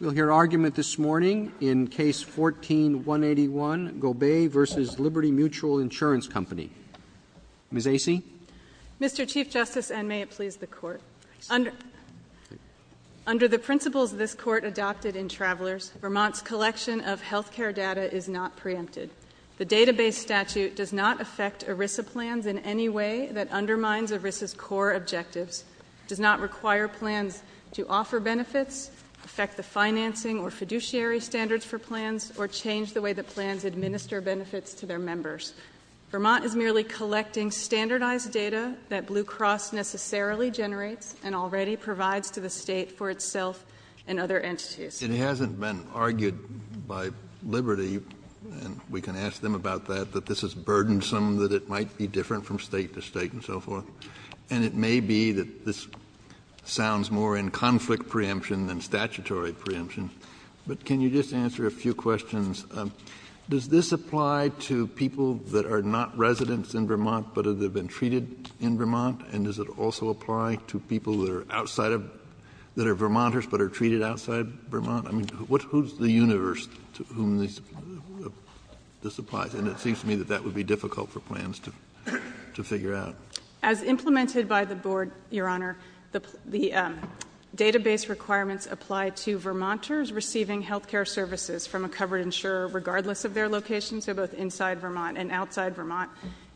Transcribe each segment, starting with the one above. We'll hear argument this morning in Case 14-181, Gobeille v. Liberty Mut. Ins. Co. Ms. Acey? Mr. Chief Justice, and may it please the Court, under the principles this Court adopted in Travelers, Vermont's collection of health care data is not preempted. The database statute does not affect ERISA plans in any way that undermines ERISA's core objectives, does not require plans to offer benefits, affect the financing or fiduciary standards for plans, or change the way that plans administer benefits to their members. Vermont is merely collecting standardized data that Blue Cross necessarily generates and already provides to the state for itself and other entities. It hasn't been argued by Liberty, and we can ask them about that, that this is burdensome, that it might be different from state to state and so forth. And it may be that this sounds more in conflict preemption than statutory preemption, but can you just answer a few questions? Does this apply to people that are not residents in Vermont but have been treated in Vermont? And does it also apply to people that are outside of, that are Vermonters but are treated outside of Vermont? I mean, who's the universe to whom this applies? And it seems to me that that would be difficult for plans to figure out. As implemented by the Board, Your Honor, the database requirements apply to Vermonters receiving health care services from a covered insurer regardless of their location, so both inside Vermont and outside Vermont,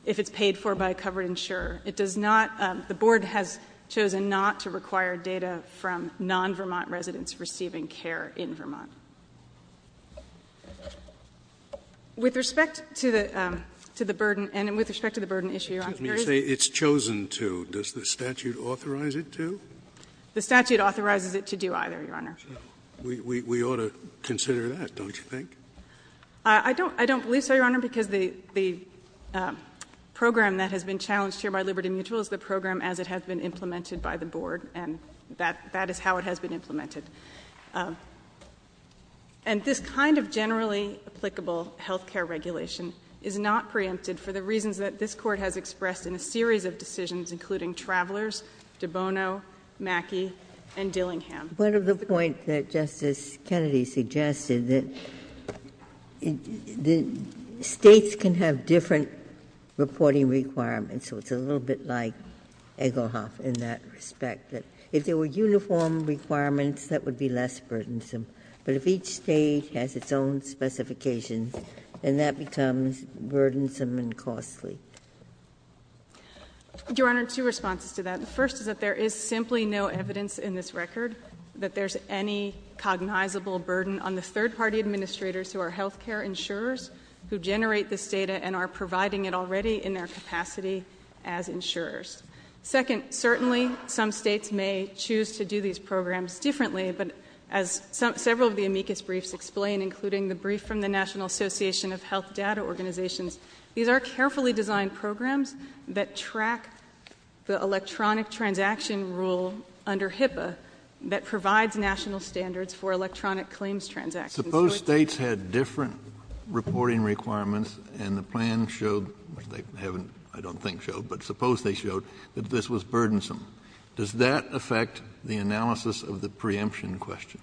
if it's paid for by a covered insurer. It does not, the Board has chosen not to require data from non-Vermont residents receiving care in Vermont. With respect to the, to the burden, and with respect to the burden issue, Your Honor, there is I would say it's chosen to. Does the statute authorize it to? The statute authorizes it to do either, Your Honor. We ought to consider that, don't you think? I don't believe so, Your Honor, because the program that has been challenged here by Liberty Mutual is the program as it has been implemented by the Board, and that is how it has been implemented. And this kind of generally applicable health care regulation is not preempted for the reasons that this Court has expressed in a series of decisions, including Travelers, De Bono, Mackey, and Dillingham. One of the points that Justice Kennedy suggested that the States can have different reporting requirements, so it's a little bit like Egglehoff in that respect, that if there were uniform requirements, that would be less burdensome. But if each State has its own specifications, then that becomes burdensome and costly. Your Honor, two responses to that. The first is that there is simply no evidence in this record that there's any cognizable burden on the third-party administrators who are health care insurers who generate this data and are providing it already in their capacity as insurers. Second, certainly some States may choose to do these programs differently, but as some of the amicus briefs explain, including the brief from the National Association of Health Data Organizations, these are carefully designed programs that track the electronic transaction rule under HIPAA that provides national standards for electronic claims transactions. Kennedy. Suppose States had different reporting requirements and the plan showed, which they haven't, I don't think, showed, but suppose they showed that this was burdensome. Does that affect the analysis of the preemption question?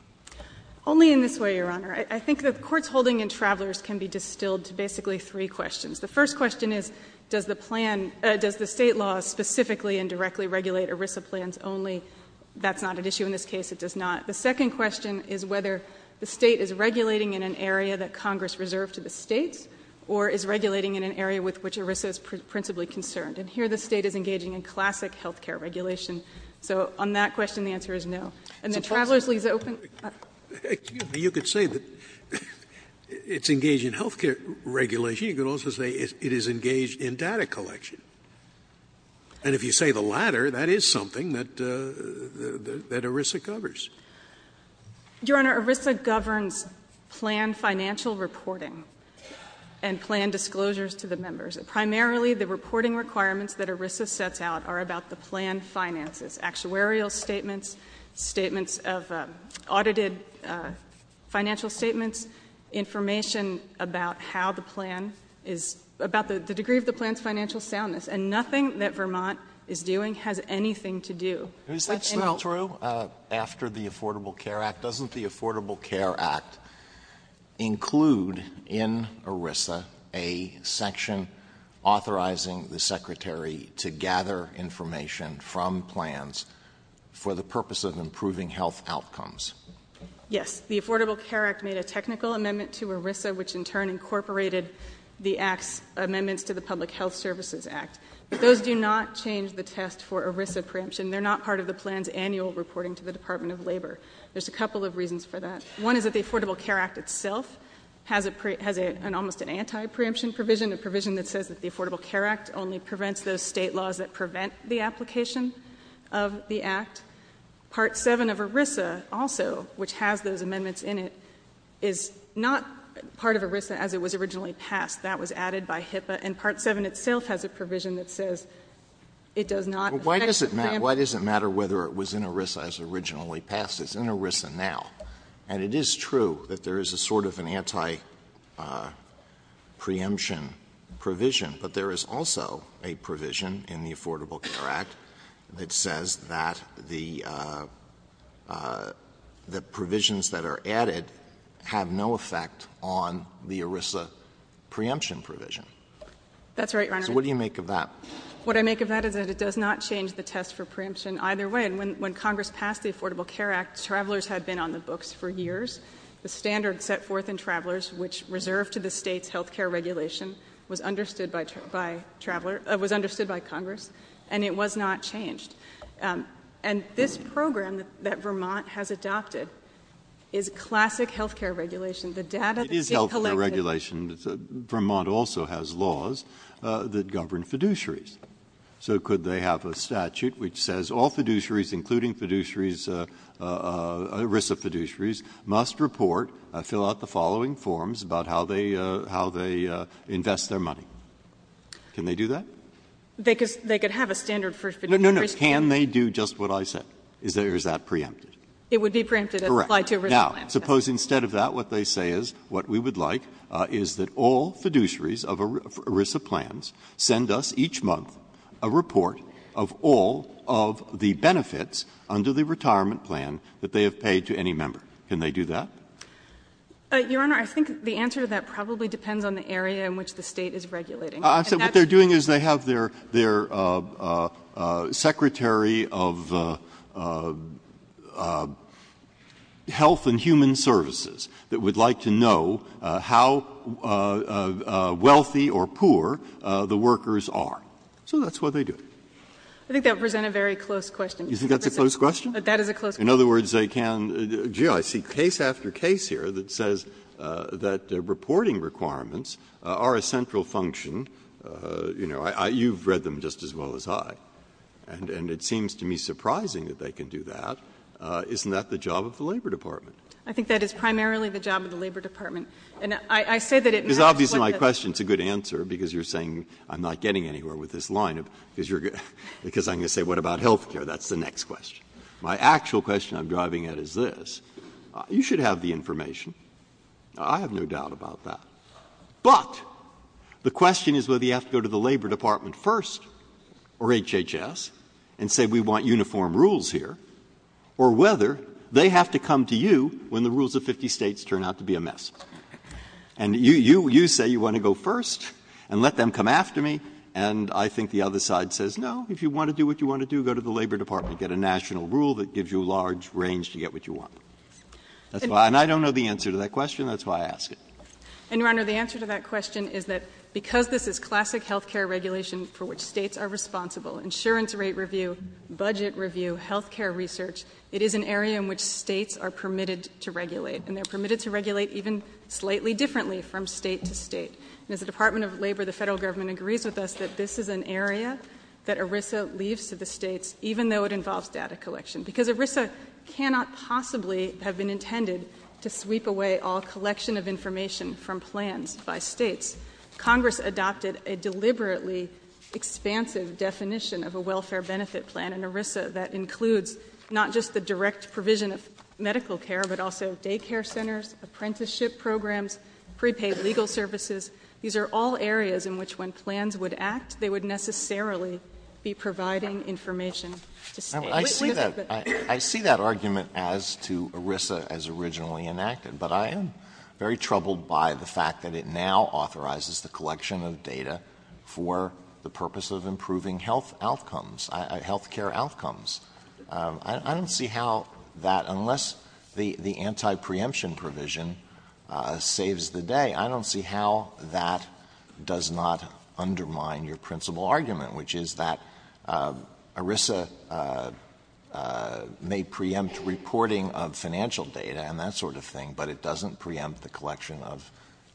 Only in this way, Your Honor. I think the Court's holding in Travelers can be distilled to basically three questions. The first question is, does the plan — does the State law specifically and directly regulate ERISA plans only? That's not at issue in this case. It does not. The second question is whether the State is regulating in an area that Congress reserved to the States or is regulating in an area with which ERISA is principally concerned. And here the State is engaging in classic health care regulation. So on that question, the answer is no. And then Travelers leaves it open. Scalia, you could say that it's engaged in health care regulation. You could also say it is engaged in data collection. And if you say the latter, that is something that ERISA covers. Your Honor, ERISA governs plan financial reporting and plan disclosures to the members. Primarily, the reporting requirements that ERISA sets out are about the plan finances, actuarial statements, statements of audited financial statements, information about how the plan is — about the degree of the plan's financial soundness. And nothing that Vermont is doing has anything to do with any of that. Is that still true after the Affordable Care Act? Doesn't the Affordable Care Act include in ERISA a section authorizing the Secretary to gather information from plans for the purpose of improving health outcomes? Yes. The Affordable Care Act made a technical amendment to ERISA, which in turn incorporated the Act's amendments to the Public Health Services Act. Those do not change the test for ERISA preemption. They're not part of the plan's annual reporting to the Department of Labor. There's a couple of reasons for that. One is that the Affordable Care Act itself has an almost anti-preemption provision, a provision that says that the Affordable Care Act only prevents those State laws that prevent the application of the Act. Part 7 of ERISA also, which has those amendments in it, is not part of ERISA as it was originally passed. That was added by HIPAA. And Part 7 itself has a provision that says it does not affect preemption. Why does it matter whether it was in ERISA as originally passed? It's in ERISA now. And it is true that there is a sort of an anti-preemption provision, but there is also a provision in the Affordable Care Act that says that the provisions that are added have no effect on the ERISA preemption provision. That's right, Your Honor. So what do you make of that? What I make of that is that it does not change the test for preemption either way. And when Congress passed the Affordable Care Act, travelers had been on the books for years. The standard set forth in Travelers, which reserved to the State's health care regulation, was understood by Congress, and it was not changed. And this program that Vermont has adopted is classic health care regulation. The data is collected. It is health care regulation. Vermont also has laws that govern fiduciaries. So could they have a statute which says all fiduciaries, including fiduciaries ERISA fiduciaries, must report, fill out the following forms about how they invest their money? Can they do that? They could have a standard for fiduciaries. No, no, no. Can they do just what I said? Or is that preempted? It would be preempted and applied to ERISA plans. Correct. Now, suppose instead of that what they say is what we would like is that all fiduciaries of ERISA plans send us each month a report of all of the benefits under the retirement plan that they have paid to any member. Can they do that? Your Honor, I think the answer to that probably depends on the area in which the State is regulating. I said what they are doing is they have their secretary of health and human services that would like to know how wealthy or poor the workers are. So that's what they do. I think that would present a very close question. Do you think that's a close question? That is a close question. In other words, they can gee, I see case after case here that says that reporting requirements are a central function. You know, you've read them just as well as I. And it seems to me surprising that they can do that. Isn't that the job of the Labor Department? I think that is primarily the job of the Labor Department. And I say that it matters what the others are doing. Breyer, because obviously my question is a good answer, because you are saying I'm not getting anywhere with this line, because I'm going to say what about health care? That's the next question. My actual question I'm driving at is this. You should have the information. I have no doubt about that. But the question is whether you have to go to the Labor Department first or HHS and say we want uniform rules here, or whether they have to come to you when the rules of 50 States turn out to be a mess. And you say you want to go first and let them come after me. And I think the other side says, no, if you want to do what you want to do, go to the Labor Department, get a national rule that gives you a large range to get what you want. And I don't know the answer to that question. That's why I ask it. And, Your Honor, the answer to that question is that because this is classic health care regulation for which States are responsible, insurance rate review, budget review, health care research, it is an area in which States are permitted to regulate. And they're permitted to regulate even slightly differently from State to State. And as a Department of Labor, the Federal Government agrees with us that this is an area that ERISA leaves to the States, even though it involves data collection. Because ERISA cannot possibly have been intended to sweep away all collection of information from plans by States. Congress adopted a deliberately expansive definition of a welfare benefit plan in ERISA that includes not just the direct provision of medical care, but also daycare centers, apprenticeship programs, prepaid legal services. These are all areas in which when plans would act, they would necessarily be providing information to States. I see that. I see that argument as to ERISA as originally enacted. But I am very troubled by the fact that it now authorizes the collection of data for the purpose of improving health outcomes, health care outcomes. I don't see how that, unless the anti-preemption provision saves the day, I don't see how that does not undermine your principal argument, which is that ERISA may preempt reporting of financial data and that sort of thing, but it doesn't preempt the collection of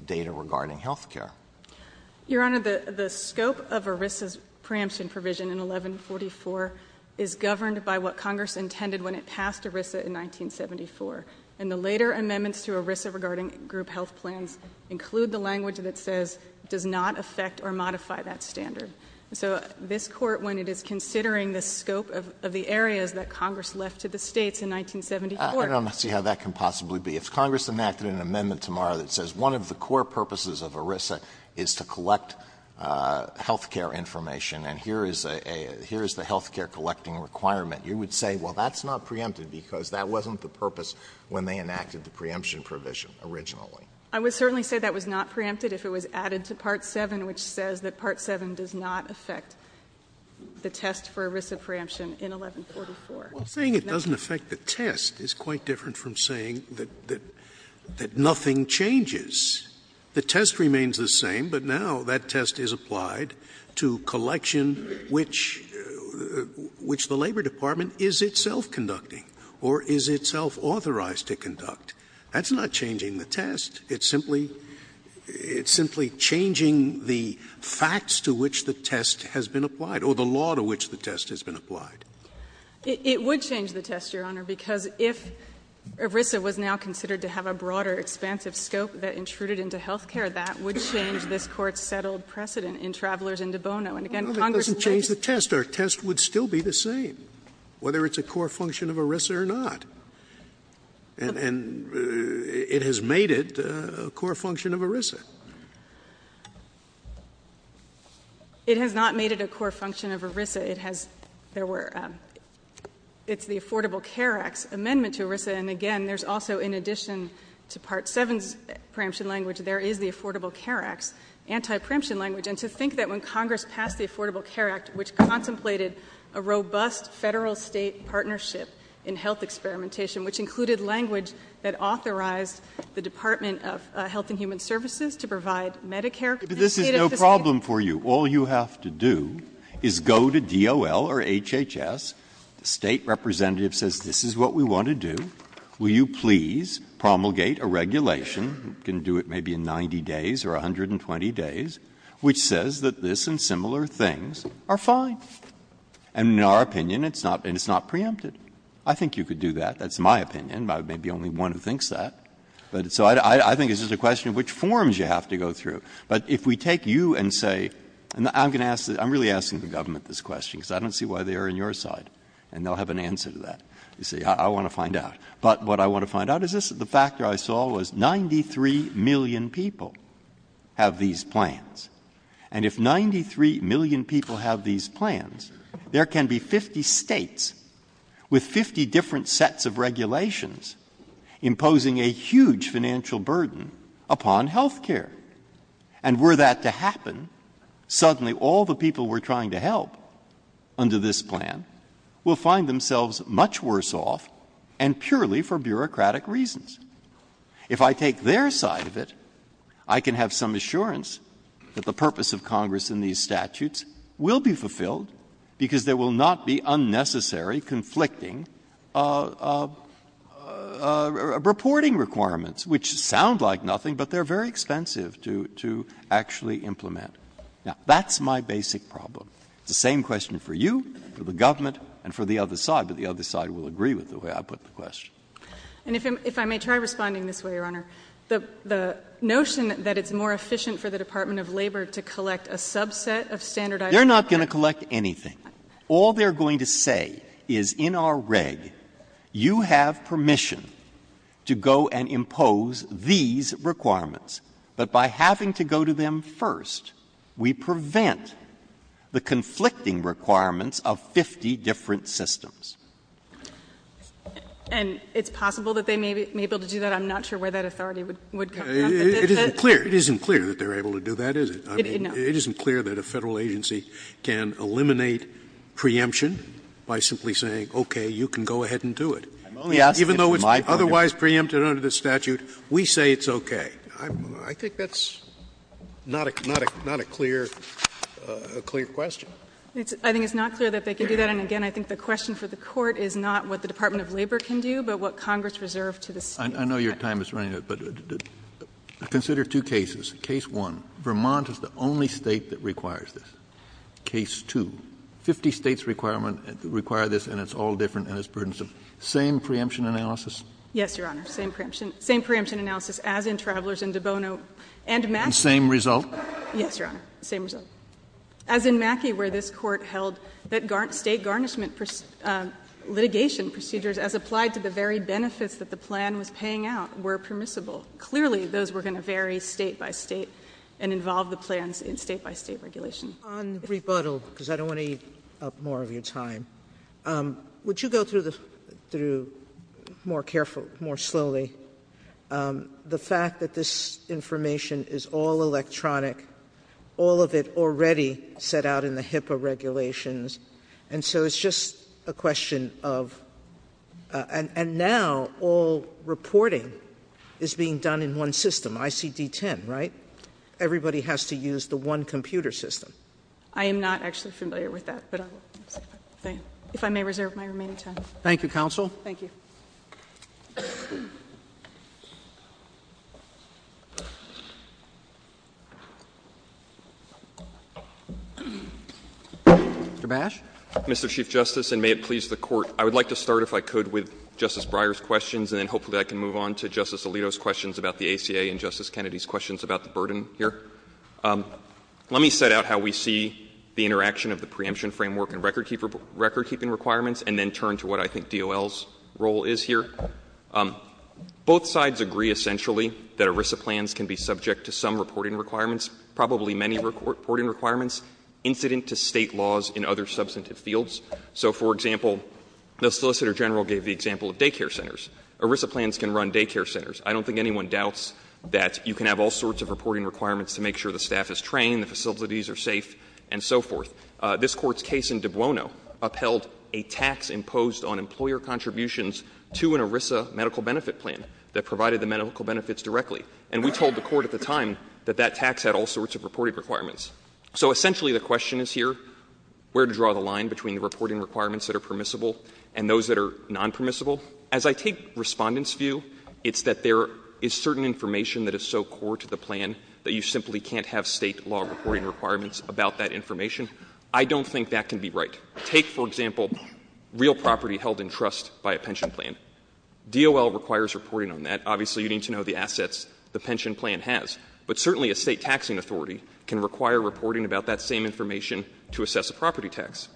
data regarding health care. Your Honor, the scope of ERISA's preemption provision in 1144 is governed by what Congress intended when it passed ERISA in 1974. And the later amendments to ERISA regarding group health plans include the language that says, does not affect or modify that standard. So this Court, when it is considering the scope of the areas that Congress left to the Court. Alito, I don't see how that can possibly be. If Congress enacted an amendment tomorrow that says one of the core purposes of ERISA is to collect health care information, and here is a here is the health care collecting requirement, you would say, well, that's not preempted because that wasn't the purpose when they enacted the preemption provision originally. I would certainly say that was not preempted if it was added to Part 7, which says that Part 7 does not affect the test for ERISA preemption in 1144. Scalia Well, saying it doesn't affect the test is quite different from saying that nothing changes. The test remains the same, but now that test is applied to collection which the Labor Department is itself conducting, or is itself authorized to conduct. That's not changing the test. It's simply changing the facts to which the test has been applied, or the law to which the test has been applied. It would change the test, Your Honor, because if ERISA was now considered to have a broader, expansive scope that intruded into health care, that would change this Court's settled precedent in Travelers and De Bono. And again, Congress would say that's not the case. Scalia No, that doesn't change the test. Our test would still be the same, whether it's a core function of ERISA or not. And it has made it a core function of ERISA. It has not made it a core function of ERISA. It has the Affordable Care Act's amendment to ERISA. And again, there's also, in addition to Part 7's preemption language, there is the Affordable Care Act's anti-preemption language. And to think that when Congress passed the Affordable Care Act, which contemplated a robust Federal-State partnership in health experimentation, which included language that authorized the Department of Health and Human Services to provide Medicare Medicaid at the same time. The State representative says this is what we want to do. Will you please promulgate a regulation, you can do it maybe in 90 days or 120 days, which says that this and similar things are fine. And in our opinion, it's not preempted. I think you could do that. That's my opinion. I may be only one who thinks that. So I think it's just a question of which forms you have to go through. But if we take you and say, and I'm going to ask this, I'm really asking the government this question, because I don't see why they are on your side, and they'll have an answer to that. You say, I want to find out. But what I want to find out is this, the factor I saw was 93 million people have these plans. And if 93 million people have these plans, there can be 50 states with 50 different sets of regulations imposing a huge financial burden upon health care. And were that to happen, suddenly all the people we're trying to help under this plan will find themselves much worse off and purely for bureaucratic reasons. If I take their side of it, I can have some assurance that the purpose of Congress in these statutes will be fulfilled, because there will not be unnecessary, conflicting reporting requirements, which sound like nothing, but they're very expensive to actually implement. Now, that's my basic problem. It's the same question for you, for the government, and for the other side. But the other side will agree with the way I put the question. And if I may try responding this way, Your Honor, the notion that it's more efficient for the Department of Labor to collect a subset of standardized requirements is not true. Breyer. They're not going to collect anything. All they're going to say is, in our reg, you have permission to go and impose these requirements. But by having to go to them first, we prevent the conflicting requirements of 50 different systems. And it's possible that they may be able to do that. I'm not sure where that authority would come from. It isn't clear. It isn't clear that they're able to do that, is it? I mean, it isn't clear that a Federal agency can eliminate preemption by simply saying, okay, you can go ahead and do it. Even though it's otherwise preempted under the statute, we say it's okay. I think that's not a clear question. I think it's not clear that they can do that. And again, I think the question for the Court is not what the Department of Labor can do, but what Congress reserved to the State. I know your time is running out, but consider two cases. Case one, Vermont is the only state that requires this. Case two, 50 states require this, and it's all different, and it's burdensome. Same preemption analysis? Yes, Your Honor, same preemption analysis, as in Travelers and De Bono and Mackey. And same result? Yes, Your Honor, same result. As in Mackey, where this Court held that State garnishment litigation procedures as applied to the very benefits that the plan was paying out were permissible. Clearly, those were going to vary State by State and involve the plans in State by State regulation. On rebuttal, because I don't want to eat up more of your time, would you go through the — through more carefully, more slowly, the fact that this information is all electronic, all of it already set out in the HIPAA regulations, and so it's just a question of — and now all reporting is being done in one system, ICD-10, right? Everybody has to use the one computer system. I am not actually familiar with that, but I will say that, if I may reserve my remaining time. Thank you, Counsel. Thank you. Mr. Bash. Mr. Chief Justice, and may it please the Court, I would like to start, if I could, with Justice Breyer's questions, and then hopefully I can move on to Justice Alito's questions about the ACA and Justice Kennedy's questions about the burden here. Let me set out how we see the interaction of the preemption framework and record keeping requirements, and then turn to what I think DOL's role is here. Both sides agree, essentially, that ERISA plans can be subject to some reporting requirements, probably many reporting requirements, incident to State laws in other substantive fields. So, for example, the Solicitor General gave the example of daycare centers. ERISA plans can run daycare centers. I don't think anyone doubts that you can have all sorts of reporting requirements to make sure the staff is trained, the facilities are safe, and so forth. This Court's case in De Buono upheld a tax imposed on employer contributions to an ERISA medical benefit plan that provided the medical benefits directly. And we told the Court at the time that that tax had all sorts of reporting requirements. So, essentially, the question is here, where to draw the line between the reporting requirements that are permissible and those that are nonpermissible. As I take Respondent's view, it's that there is certain information that is so core to the plan that you simply can't have State law reporting requirements about that information. I don't think that can be right. Take, for example, real property held in trust by a pension plan. DOL requires reporting on that. Obviously, you need to know the assets the pension plan has. But certainly a State taxing authority can require reporting about that same information to assess a property tax.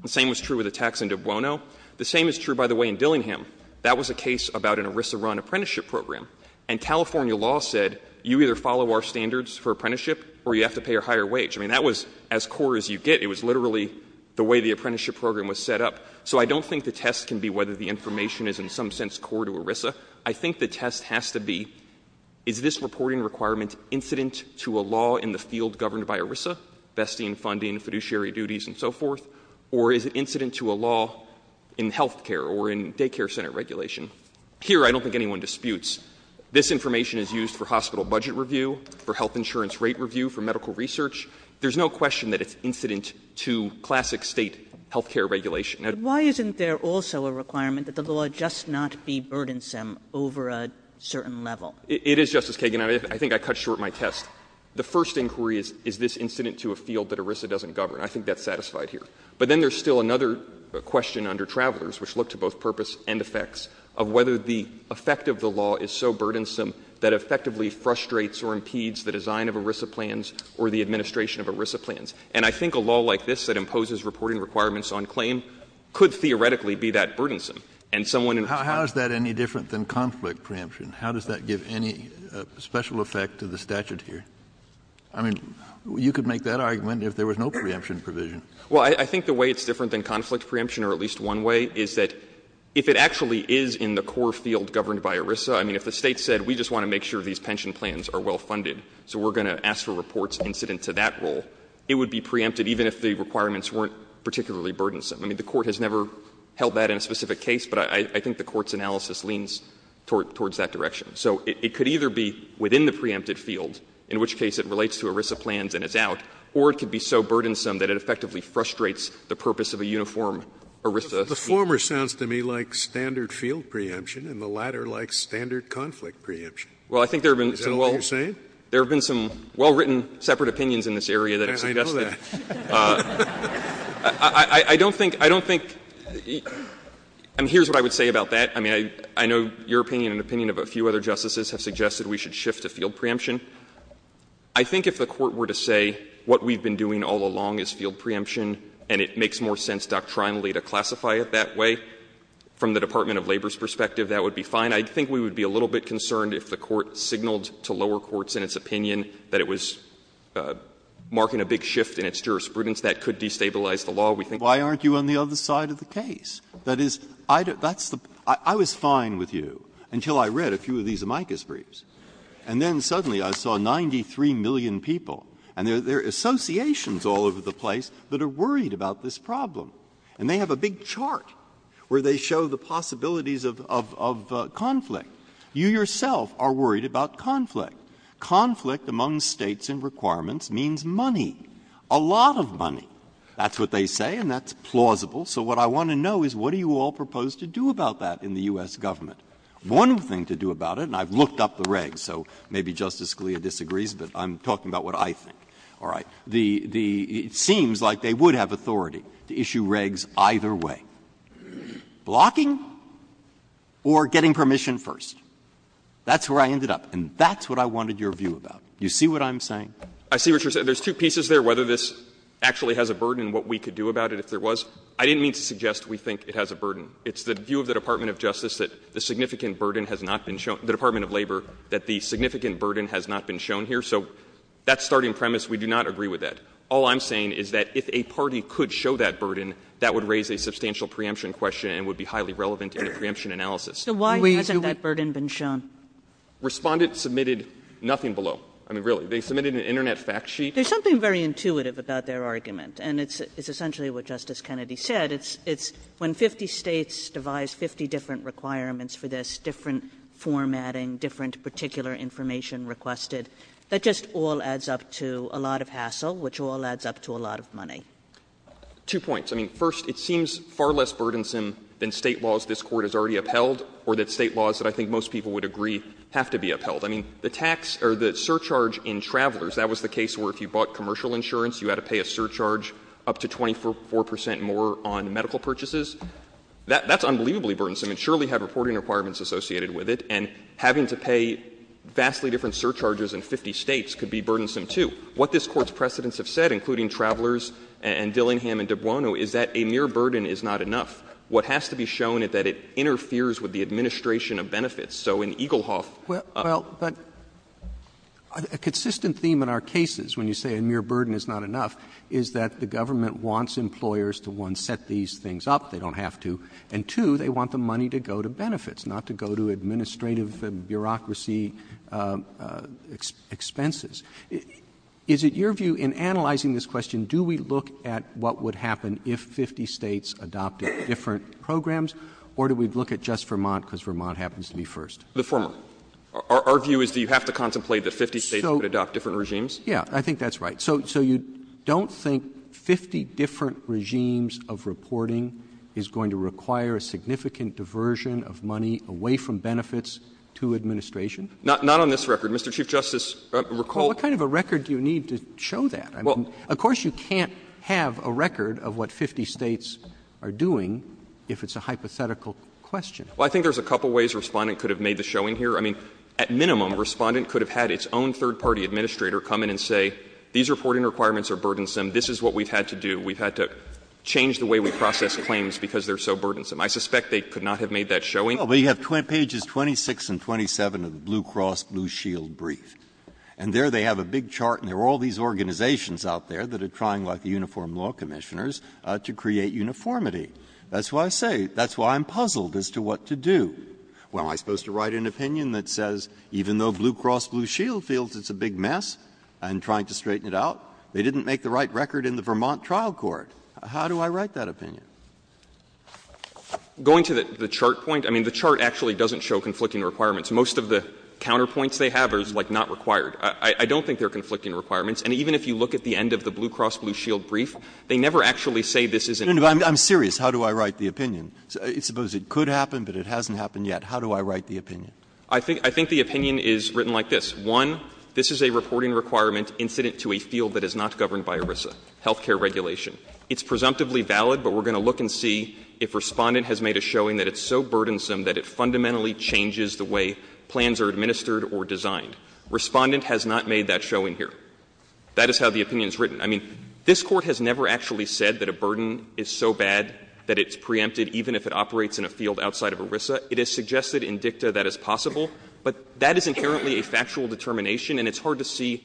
The same was true with a tax in De Buono. The same is true, by the way, in Dillingham. That was a case about an ERISA-run apprenticeship program. And California law said you either follow our standards for apprenticeship or you have to pay a higher wage. I mean, that was as core as you get. It was literally the way the apprenticeship program was set up. So I don't think the test can be whether the information is in some sense core to ERISA. I think the test has to be, is this reporting requirement incident to a law in the field governed by ERISA, vesting, funding, fiduciary duties, and so forth, or is it incident to a law in health care or in daycare center regulation? Here, I don't think anyone disputes. This information is used for hospital budget review, for health insurance rate review, for medical research. There's no question that it's incident to classic State health care regulation. But why isn't there also a requirement that the law just not be burdensome over a certain level? It is, Justice Kagan. I think I cut short my test. The first inquiry is, is this incident to a field that ERISA doesn't govern? I think that's satisfied here. But then there's still another question under Travelers, which looked to both purpose and effects, of whether the effect of the law is so burdensome that effectively frustrates or impedes the design of ERISA plans or the administration of ERISA plans. And I think a law like this that imposes reporting requirements on claim could theoretically be that burdensome. And someone in response to that would say, well, I don't think it's that burdensome. Kennedy. How is that any different than conflict preemption? How does that give any special effect to the statute here? I mean, you could make that argument if there was no preemption provision. Well, I think the way it's different than conflict preemption, or at least one way, is that if it actually is in the core field governed by ERISA, I mean, if the State said, we just want to make sure these pension plans are well funded, so we're going to ask for reports incident to that rule, it would be preempted, even if the requirements weren't particularly burdensome. I mean, the Court has never held that in a specific case, but I think the Court's analysis leans towards that direction. So it could either be within the preempted field, in which case it relates to ERISA plans and it's out, or it could be so burdensome that it effectively frustrates the purpose of a uniform ERISA fee. Scalia. The former sounds to me like standard field preemption, and the latter like standard conflict preemption. Is that what you're saying? There have been some well-written separate opinions in this area that have suggested that. I don't think — I don't think — I mean, here's what I would say about that. I mean, I know your opinion and the opinion of a few other Justices have suggested we should shift to field preemption. I think if the Court were to say what we've been doing all along is field preemption and it makes more sense doctrinally to classify it that way from the Department of Labor's perspective, that would be fine. I mean, I think we would be a little bit concerned if the Court signaled to lower courts in its opinion that it was marking a big shift in its jurisprudence that could destabilize the law. We think— Breyer. Why aren't you on the other side of the case? That is, I was fine with you until I read a few of these amicus briefs. And then suddenly I saw 93 million people, and there are associations all over the place that are worried about this problem. And they have a big chart where they show the possibilities of conflict. You yourself are worried about conflict. Conflict among States and requirements means money, a lot of money. That's what they say, and that's plausible. So what I want to know is what do you all propose to do about that in the U.S. government? One thing to do about it, and I've looked up the regs, so maybe Justice Scalia disagrees, but I'm talking about what I think. All right. The — it seems like they would have authority to issue regs either way. Blocking or getting permission first. That's where I ended up, and that's what I wanted your view about. You see what I'm saying? I see what you're saying. There's two pieces there, whether this actually has a burden and what we could do about it if there was. I didn't mean to suggest we think it has a burden. It's the view of the Department of Justice that the significant burden has not been shown — the Department of Labor that the significant burden has not been shown here. So that's starting premise. We do not agree with that. All I'm saying is that if a party could show that burden, that would raise a substantial preemption question and would be highly relevant in a preemption analysis. Kagan. So why hasn't that burden been shown? Respondent submitted nothing below. I mean, really. They submitted an Internet fact sheet. There's something very intuitive about their argument, and it's essentially It's — it's when 50 States devised 50 different requirements for this, different formatting, different particular information requested. That just all adds up to a lot of hassle, which all adds up to a lot of money. Two points. I mean, first, it seems far less burdensome than State laws this Court has already upheld or that State laws that I think most people would agree have to be upheld. I mean, the tax — or the surcharge in travelers, that was the case where if you bought commercial insurance, you had to pay a surcharge up to 24 percent more on medical purchases. That's unbelievably burdensome. And surely had reporting requirements associated with it. And having to pay vastly different surcharges in 50 States could be burdensome, too. What this Court's precedents have said, including travelers and Dillingham and de Buono, is that a mere burden is not enough. What has to be shown is that it interferes with the administration of benefits. So in Eaglehoff — Roberts, a consistent theme in our cases when you say a mere burden is not enough is that the government wants employers to, one, set these things up, they don't have to, and, two, they want the money to go to benefits, not to go to administrative and bureaucracy expenses. Is it your view in analyzing this question, do we look at what would happen if 50 States adopted different programs, or do we look at just Vermont, because Vermont happens to be first? The former. Our view is that you have to contemplate that 50 States would adopt different regimes. Yeah. I think that's right. So you don't think 50 different regimes of reporting is going to require a significant diversion of money away from benefits to administration? Not on this record. Mr. Chief Justice, recall— Well, what kind of a record do you need to show that? I mean, of course you can't have a record of what 50 States are doing if it's a hypothetical question. Well, I think there's a couple ways Respondent could have made the showing here. I mean, at minimum, Respondent could have had its own third-party administrator come in and say, these reporting requirements are burdensome, this is what we've had to do. We've had to change the way we process claims because they're so burdensome. I suspect they could not have made that showing. Well, but you have pages 26 and 27 of the Blue Cross Blue Shield brief. And there they have a big chart, and there are all these organizations out there that are trying, like the Uniform Law Commissioners, to create uniformity. That's why I say, that's why I'm puzzled as to what to do. Well, am I supposed to write an opinion that says, even though Blue Cross Blue Shield feels it's a big mess and trying to straighten it out, they didn't make the right record in the Vermont trial court? How do I write that opinion? Going to the chart point, I mean, the chart actually doesn't show conflicting requirements. Most of the counterpoints they have are, like, not required. I don't think they're conflicting requirements. And even if you look at the end of the Blue Cross Blue Shield brief, they never actually say this is an issue. I'm serious. How do I write the opinion? Suppose it could happen, but it hasn't happened yet. How do I write the opinion? I think the opinion is written like this. One, this is a reporting requirement incident to a field that is not governed by ERISA, health care regulation. It's presumptively valid, but we're going to look and see if Respondent has made a showing that it's so burdensome that it fundamentally changes the way plans are administered or designed. Respondent has not made that showing here. That is how the opinion is written. I mean, this Court has never actually said that a burden is so bad that it's preempted even if it operates in a field outside of ERISA. It is suggested in dicta that it's possible, but that is inherently a factual determination, and it's hard to see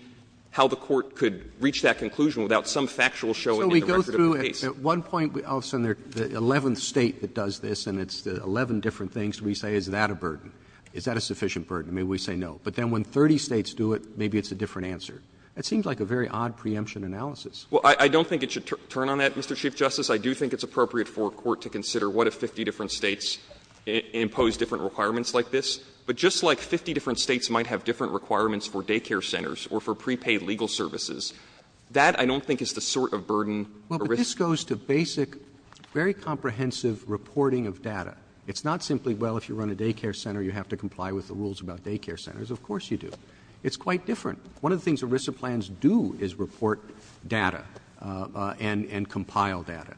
how the Court could reach that conclusion without some factual showing in the record of the case. Roberts. Roberts. At one point, I'll send the eleventh State that does this, and it's eleven different things, we say is that a burden? Is that a sufficient burden? Maybe we say no. But then when 30 States do it, maybe it's a different answer. It seems like a very odd preemption analysis. Well, I don't think it should turn on that, Mr. Chief Justice. I do think it's appropriate for a court to consider what if 50 different States impose different requirements like this. But just like 50 different States might have different requirements for daycare centers or for prepaid legal services, that I don't think is the sort of burden ERISA has. Roberts. Well, but this goes to basic, very comprehensive reporting of data. It's not simply, well, if you run a daycare center, you have to comply with the rules about daycare centers. Of course you do. It's quite different. One of the things ERISA plans do is report data and compile data.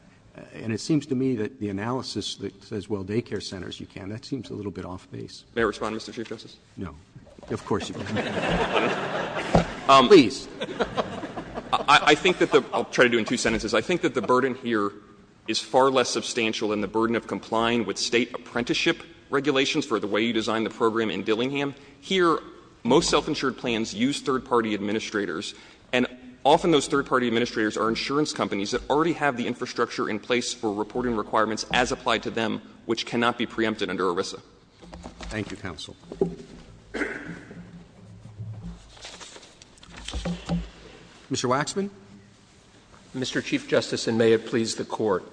And it seems to me that the analysis that says, well, daycare centers you can, that seems a little bit off base. May I respond, Mr. Chief Justice? No. Of course you can. Please. I think that the — I'll try to do it in two sentences. I think that the burden here is far less substantial than the burden of complying with State apprenticeship regulations for the way you design the program in Dillingham. Here, most self-insured plans use third-party administrators, and often those third-party administrators are insurance companies that already have the infrastructure in place for reporting requirements as applied to them, which cannot be preempted under ERISA. Thank you, counsel. Mr. Waxman. Mr. Chief Justice, and may it please the Court,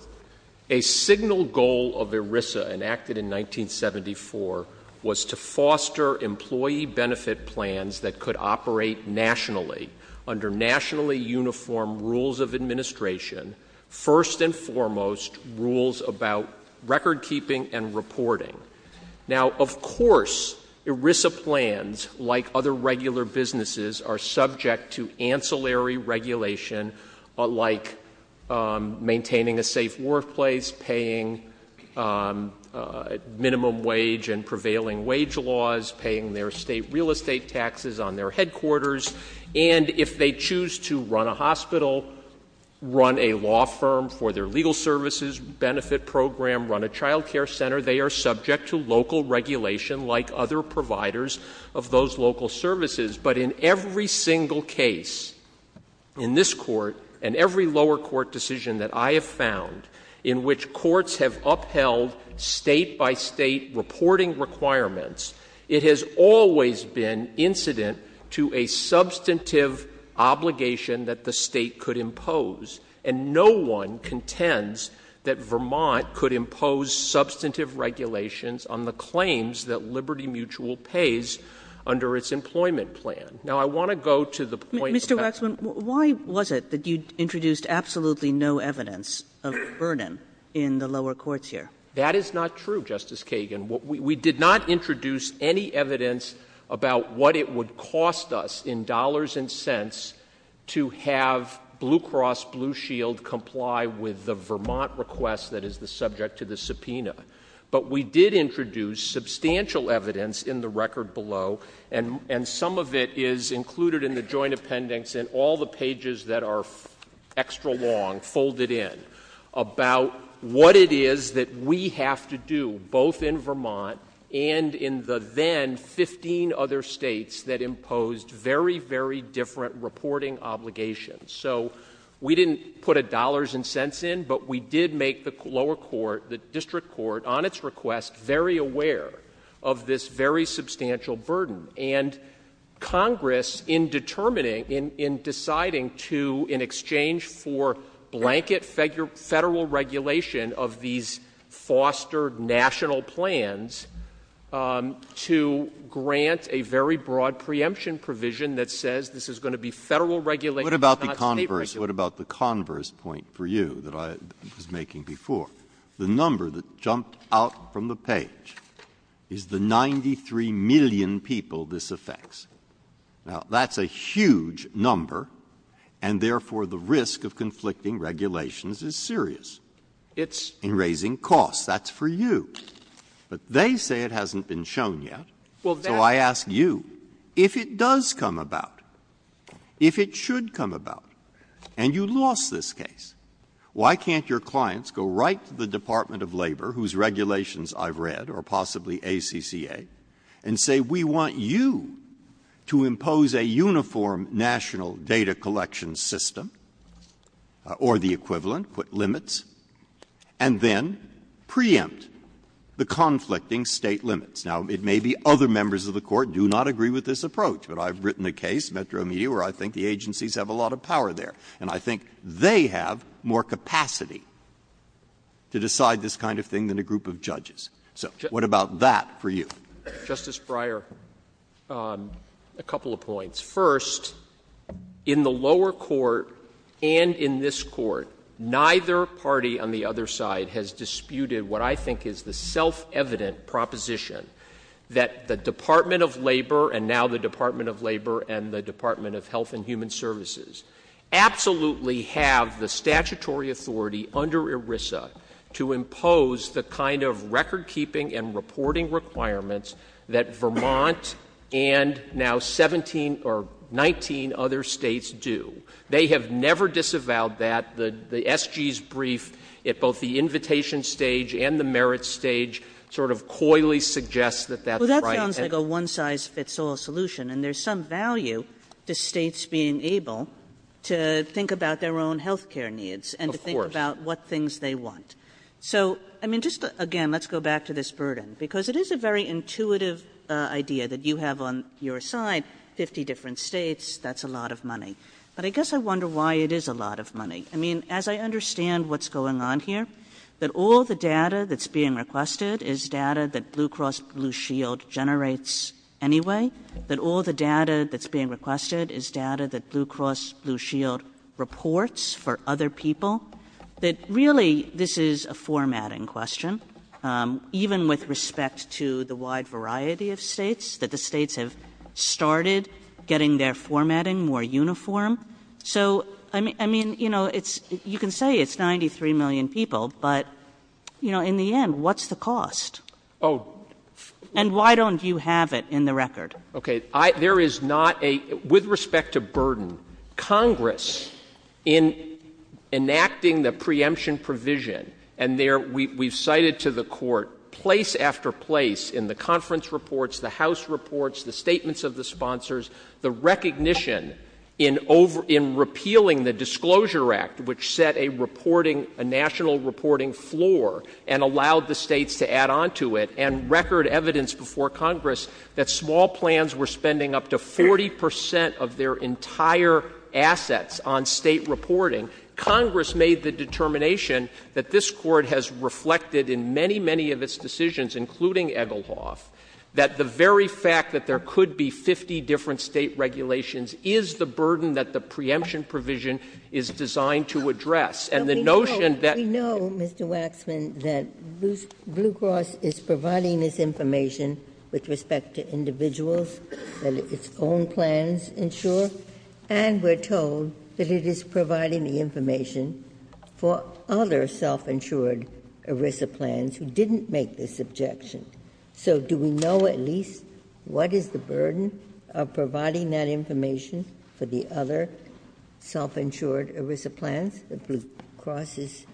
a signal goal of ERISA enacted in 1974 was to foster employee benefit plans that could operate nationally, under nationally uniform rules of administration, first and foremost rules about recordkeeping and reporting. Now, of course, ERISA plans, like other regular businesses, are subject to ancillary regulation, like maintaining a safe workplace, paying minimum wage and prevailing wage laws, paying their State real estate taxes on their headquarters, and if they choose to run a hospital, run a law firm for their legal services benefit program, run a child care center, they are subject to local regulation like other providers of those local services. But in every single case in this Court and every lower court decision that I have found in which courts have upheld State-by-State reporting requirements, it has always been incident to a substantive obligation that the State could impose. And no one contends that Vermont could impose substantive regulations on the claims that Liberty Mutual pays under its employment plan. Now, I want to go to the point of that. Mr. Waxman, why was it that you introduced absolutely no evidence of burden in the lower courts here? That is not true, Justice Kagan. We did not introduce any evidence about what it would cost us in dollars and cents to have Blue Cross Blue Shield comply with the Vermont request that is the subject to the subpoena. But we did introduce substantial evidence in the record below, and some of it is included in the joint appendix and all the pages that are extra long, folded in, about what it is that we have to do, both in Vermont and in the then 15 other states that imposed very, very different reporting obligations. So we didn't put a dollars and cents in, but we did make the lower court, the district court, on its request, very aware of this very substantial burden. And Congress, in determining, in deciding to, in exchange for blanket Federal regulation of these fostered national plans, to grant a very broad preemption provision that says this is going to be Federal regulation, not State regulation. Breyer. What about the converse point for you that I was making before? The number that jumped out from the page is the 93 million people this affects. Now, that's a huge number, and therefore the risk of conflicting regulations is serious. It's in raising costs. That's for you. But they say it hasn't been shown yet. So I ask you, if it does come about, if it should come about, and you lost this case, why can't your clients go right to the Department of Labor, whose regulations I've read, or possibly ACCA, and say, we want you to impose a uniform national data collection system, or the equivalent, put limits, and then preempt the conflicting State limits? Now, it may be other members of the Court do not agree with this approach, but I've written a case, Metro Media, where I think the agencies have a lot of power there. And I think they have more capacity to decide this kind of thing than a group of judges. So what about that for you? Justice Breyer, a couple of points. First, in the lower court, and in this Court, neither party on the other side has disputed what I think is the self-evident proposition that the Department of Labor, and now the Department of Labor, and the Department of Health and Human Services, absolutely have the statutory authority under ERISA to impose the kind of record-keeping and reporting requirements that Vermont and now 17 or 19 other States do. They have never disavowed that. The SG's brief at both the invitation stage and the merits stage sort of coyly suggests that that's right. Kagan. Well, that sounds like a one-size-fits-all solution, and there's some value to States being able to think about their own health care needs and to think about what things they want. So, I mean, just again, let's go back to this burden, because it is a very intuitive idea that you have on your side 50 different States. That's a lot of money, but I guess I wonder why it is a lot of money. I mean, as I understand what's going on here, that all the data that's being requested is data that Blue Cross Blue Shield generates anyway, that all the data that's being requested is data that Blue Cross Blue Shield reports for other people, that really this is a formatting question, even with respect to the wide variety of States, that the States have started getting their formatting more uniform. So, I mean, you know, it's you can say it's 93 million people, but, you know, in the end, what's the cost? Oh. And why don't you have it in the record? Okay. I, there is not a, with respect to burden, Congress in enacting the preemption provision, and there we, we've cited to the court place after place in the conference reports, the House reports, the statements of the sponsors, the recognition in over, in repealing the Disclosure Act, which set a reporting, a national reporting floor and allowed the States to add on to it and record evidence before Congress that small plans were spending up to 40% of their entire assets on State reporting. Congress made the determination that this Court has reflected in many, many of its decisions, including Egelhoff, that the very fact that there could be 50 different State regulations is the burden that the preemption provision is designed to address. And the notion that- But we know, we know, Mr. Waxman, that Blue Cross is providing this information with respect to individuals and its own plans ensure, and we're told that it is providing the information for other self-insured ERISA plans who didn't make this objection. So do we know at least what is the burden of providing that information for the other self-insured ERISA plans that Blue Cross is,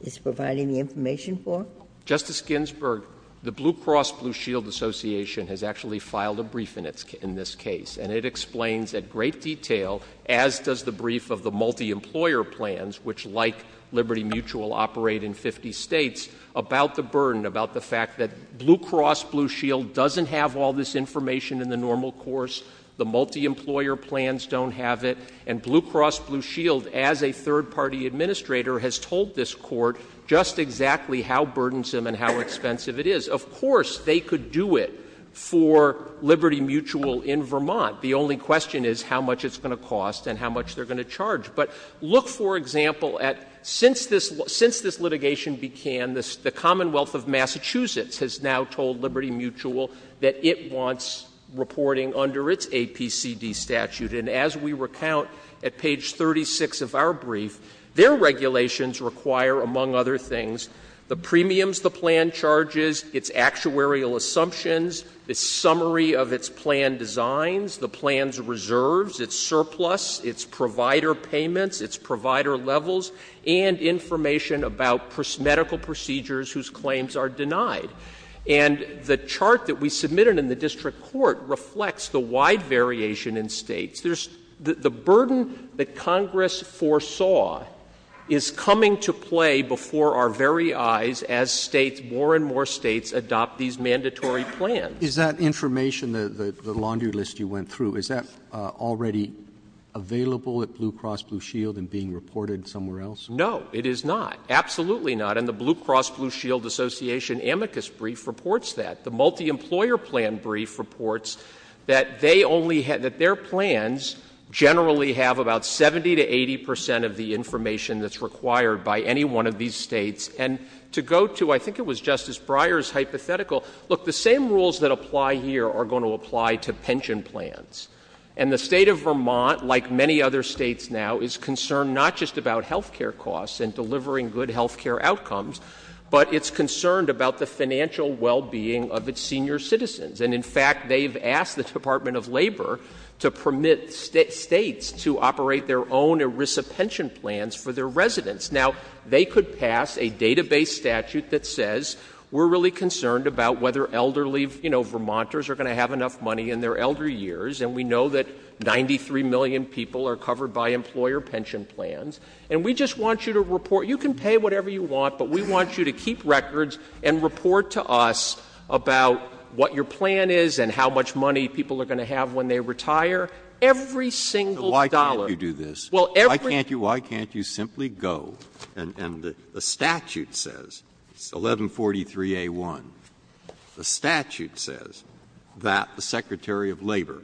is providing the information for? Justice Ginsburg, the Blue Cross Blue Shield Association has actually filed a brief in this case, and it explains in great detail, as does the brief of the multi-employer plans, which, like Liberty Mutual, operate in 50 States, about the burden, about the fact that Blue Cross Blue Shield doesn't have all this information in the normal course. The multi-employer plans don't have it. And Blue Cross Blue Shield, as a third-party administrator, has told this Court just exactly how burdensome and how expensive it is. Of course, they could do it for Liberty Mutual in Vermont. The only question is how much it's going to cost and how much they're going to charge. But look, for example, at since this, since this litigation began, the Commonwealth of Massachusetts has now told Liberty Mutual that it wants reporting under its APCD statute. And as we recount at page 36 of our brief, their regulations require, among other things, the premiums the plan charges, its actuarial assumptions, the summary of its plan designs, the plan's reserves, its surplus, its provider payments, its provider levels, and information about medical procedures whose claims are denied. And the chart that we submitted in the district court reflects the wide variation in States. The burden that Congress foresaw is coming to play before our very eyes as States, more and more States, adopt these mandatory plans. Is that information, the laundry list you went through, is that already available at Blue Cross Blue Shield and being reported somewhere else? No, it is not. Absolutely not. And the Blue Cross Blue Shield Association amicus brief reports that. The multi-employer plan brief reports that they only had, that their plans generally have about 70 to 80 percent of the information that's required by any one of these States. And to go to, I think it was Justice Breyer's hypothetical, look, the same rules that apply here are going to apply to pension plans. And the State of Vermont, like many other States now, is concerned not just about health care costs and delivering good health care outcomes, but it's concerned about the financial well-being of its senior citizens. And, in fact, they've asked the Department of Labor to permit States to operate their own ERISA pension plans for their residents. Now, they could pass a database statute that says we're really concerned about whether elderly, you know, Vermonters are going to have enough money in their elder years. And we know that 93 million people are covered by employer pension plans. And we just want you to report, you can pay whatever you want, but we want you to keep records and report to us about what your plan is and how much money people are going to have when they retire, every single dollar. Well, why can't you do this? Why can't you simply go and the statute says, 1143A1, the statute says that the Secretary of Labor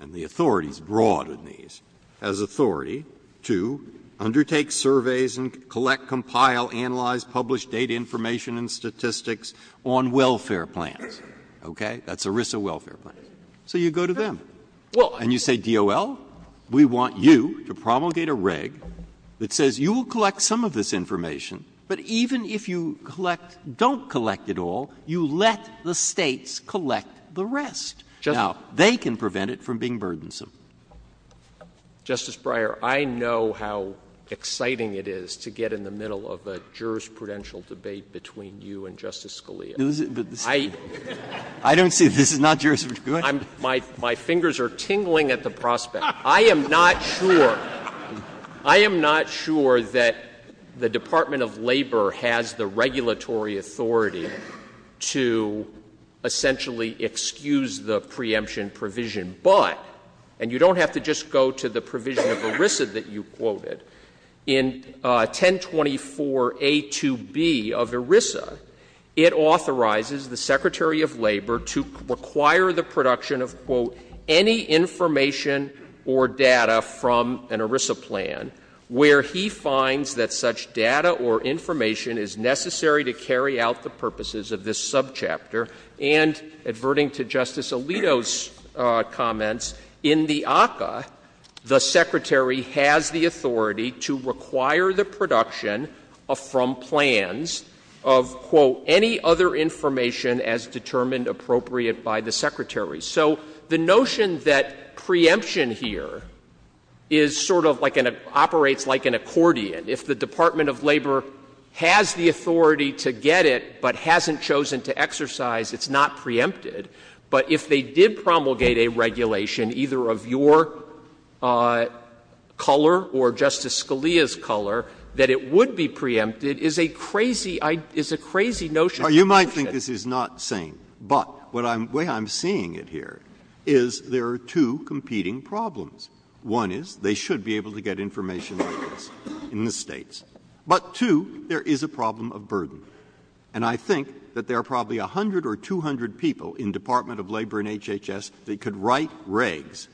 and the authorities brought in these has authority to undertake surveys and collect, compile, analyze, publish data information and statistics on welfare plans. Okay? That's ERISA welfare plans. So you go to them. And you say, DOL, we want you to promulgate a reg that says you will collect some of this information, but even if you collect, don't collect it all, you let the States collect the rest. Now, they can prevent it from being burdensome. Justice Breyer, I know how exciting it is to get in the middle of a jurisprudential debate between you and Justice Scalia. I don't see it. This is not jurisprudential. My fingers are tingling at the prospect. I am not sure. I am not sure that the Department of Labor has the regulatory authority to essentially excuse the preemption provision. But, and you don't have to just go to the provision of ERISA that you quoted, in 1024A2B of ERISA, it authorizes the Secretary of Labor to require the production of, quote, any information or data from an ERISA plan where he finds that such data or information is necessary to carry out the purposes of this subchapter. And, adverting to Justice Alito's comments, in the ACCA, the Secretary has the authority to require the production from plans of, quote, any other information as determined appropriate by the Secretary. So the notion that preemption here is sort of like an, operates like an accordion. If the Department of Labor has the authority to get it, but hasn't chosen to exercise, it's not preempted, but if they did promulgate a regulation, either of your color or Justice Scalia's color, that it would be preempted is a crazy, is a crazy notion. Breyer. You might think this is not sane, but the way I'm seeing it here is there are two competing problems. One is they should be able to get information like this in the States. But, two, there is a problem of burden. And I think that there are probably 100 or 200 people in Department of Labor and HHS that could write regs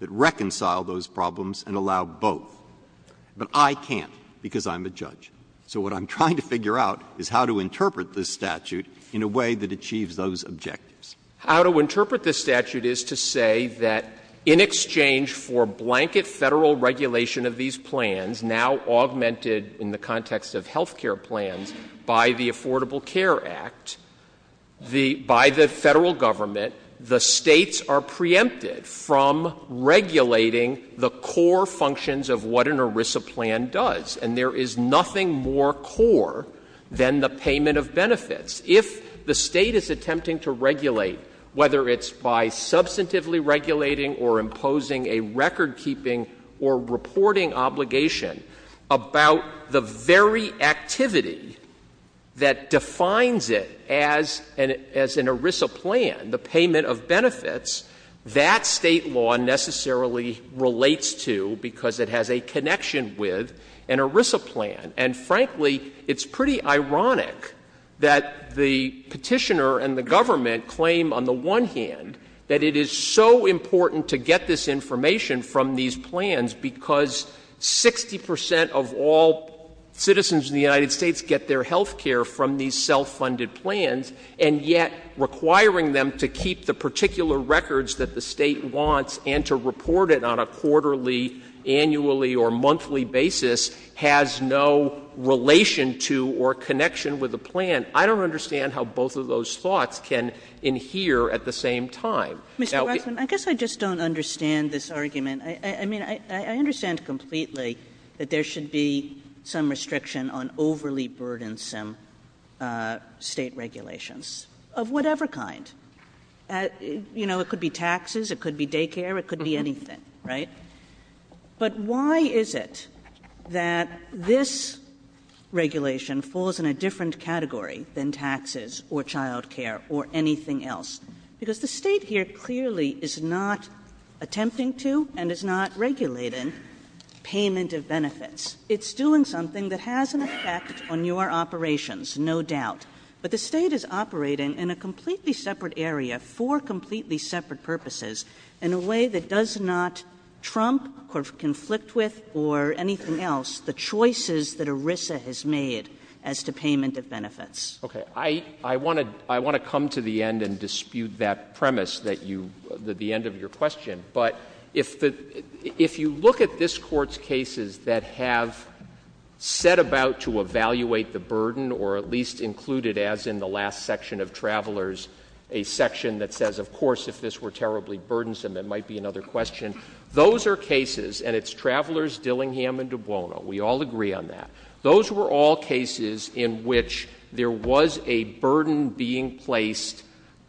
that reconcile those problems and allow both. But I can't, because I'm a judge. So what I'm trying to figure out is how to interpret this statute in a way that achieves those objectives. How to interpret this statute is to say that in exchange for blanket Federal regulation of these plans, now augmented in the context of health care plans, by the Affordable Care Act, the, by the Federal Government, the States are preempted from regulating the core functions of what an ERISA plan does. And there is nothing more core than the payment of benefits. If the State is attempting to regulate, whether it's by substantively regulating or reporting obligation, about the very activity that defines it as an ERISA plan, the payment of benefits, that State law necessarily relates to because it has a connection with an ERISA plan. And, frankly, it's pretty ironic that the Petitioner and the Government claim on the one hand that it is so important to get this information from these plans because 60 percent of all citizens in the United States get their health care from these self-funded plans, and yet requiring them to keep the particular records that the State wants and to report it on a quarterly, annually, or monthly basis has no relation to or connection with a plan. I don't understand how both of those thoughts can adhere at the same time. KAGAN. Mr. Waxman, I guess I just don't understand this argument. I mean, I understand completely that there should be some restriction on overly burdensome State regulations of whatever kind. You know, it could be taxes, it could be daycare, it could be anything, right? But why is it that this regulation falls in a different category than taxes or child care or anything else? Because the State here clearly is not attempting to and is not regulating payment of benefits. It's doing something that has an effect on your operations, no doubt. But the State is operating in a completely separate area for completely separate purposes in a way that does not trump or conflict with or anything else the choices that ERISA has made as to payment of benefits. Okay. I want to come to the end and dispute that premise, the end of your question. But if you look at this Court's cases that have set about to evaluate the burden or at least included, as in the last section of Travelers, a section that says, of course, if this were terribly burdensome, it might be another question. Those are cases, and it's Travelers, Dillingham, and Dubono, we all agree on that. Those were all cases in which there was a burden being placed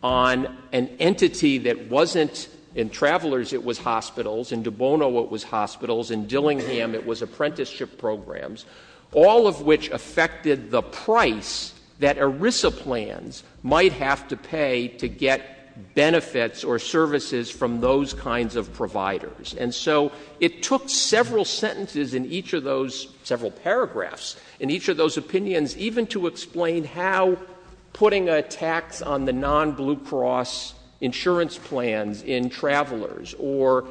on an entity that wasn't in Travelers, it was hospitals, in Dubono, it was hospitals, in Dillingham, it was apprenticeship programs, all of which affected the price that ERISA plans might have to pay to get benefits or services from those kinds of providers. And so it took several sentences in each of those, several paragraphs, in each of those opinions even to explain how putting a tax on the non-Blue Cross insurance plans in Travelers or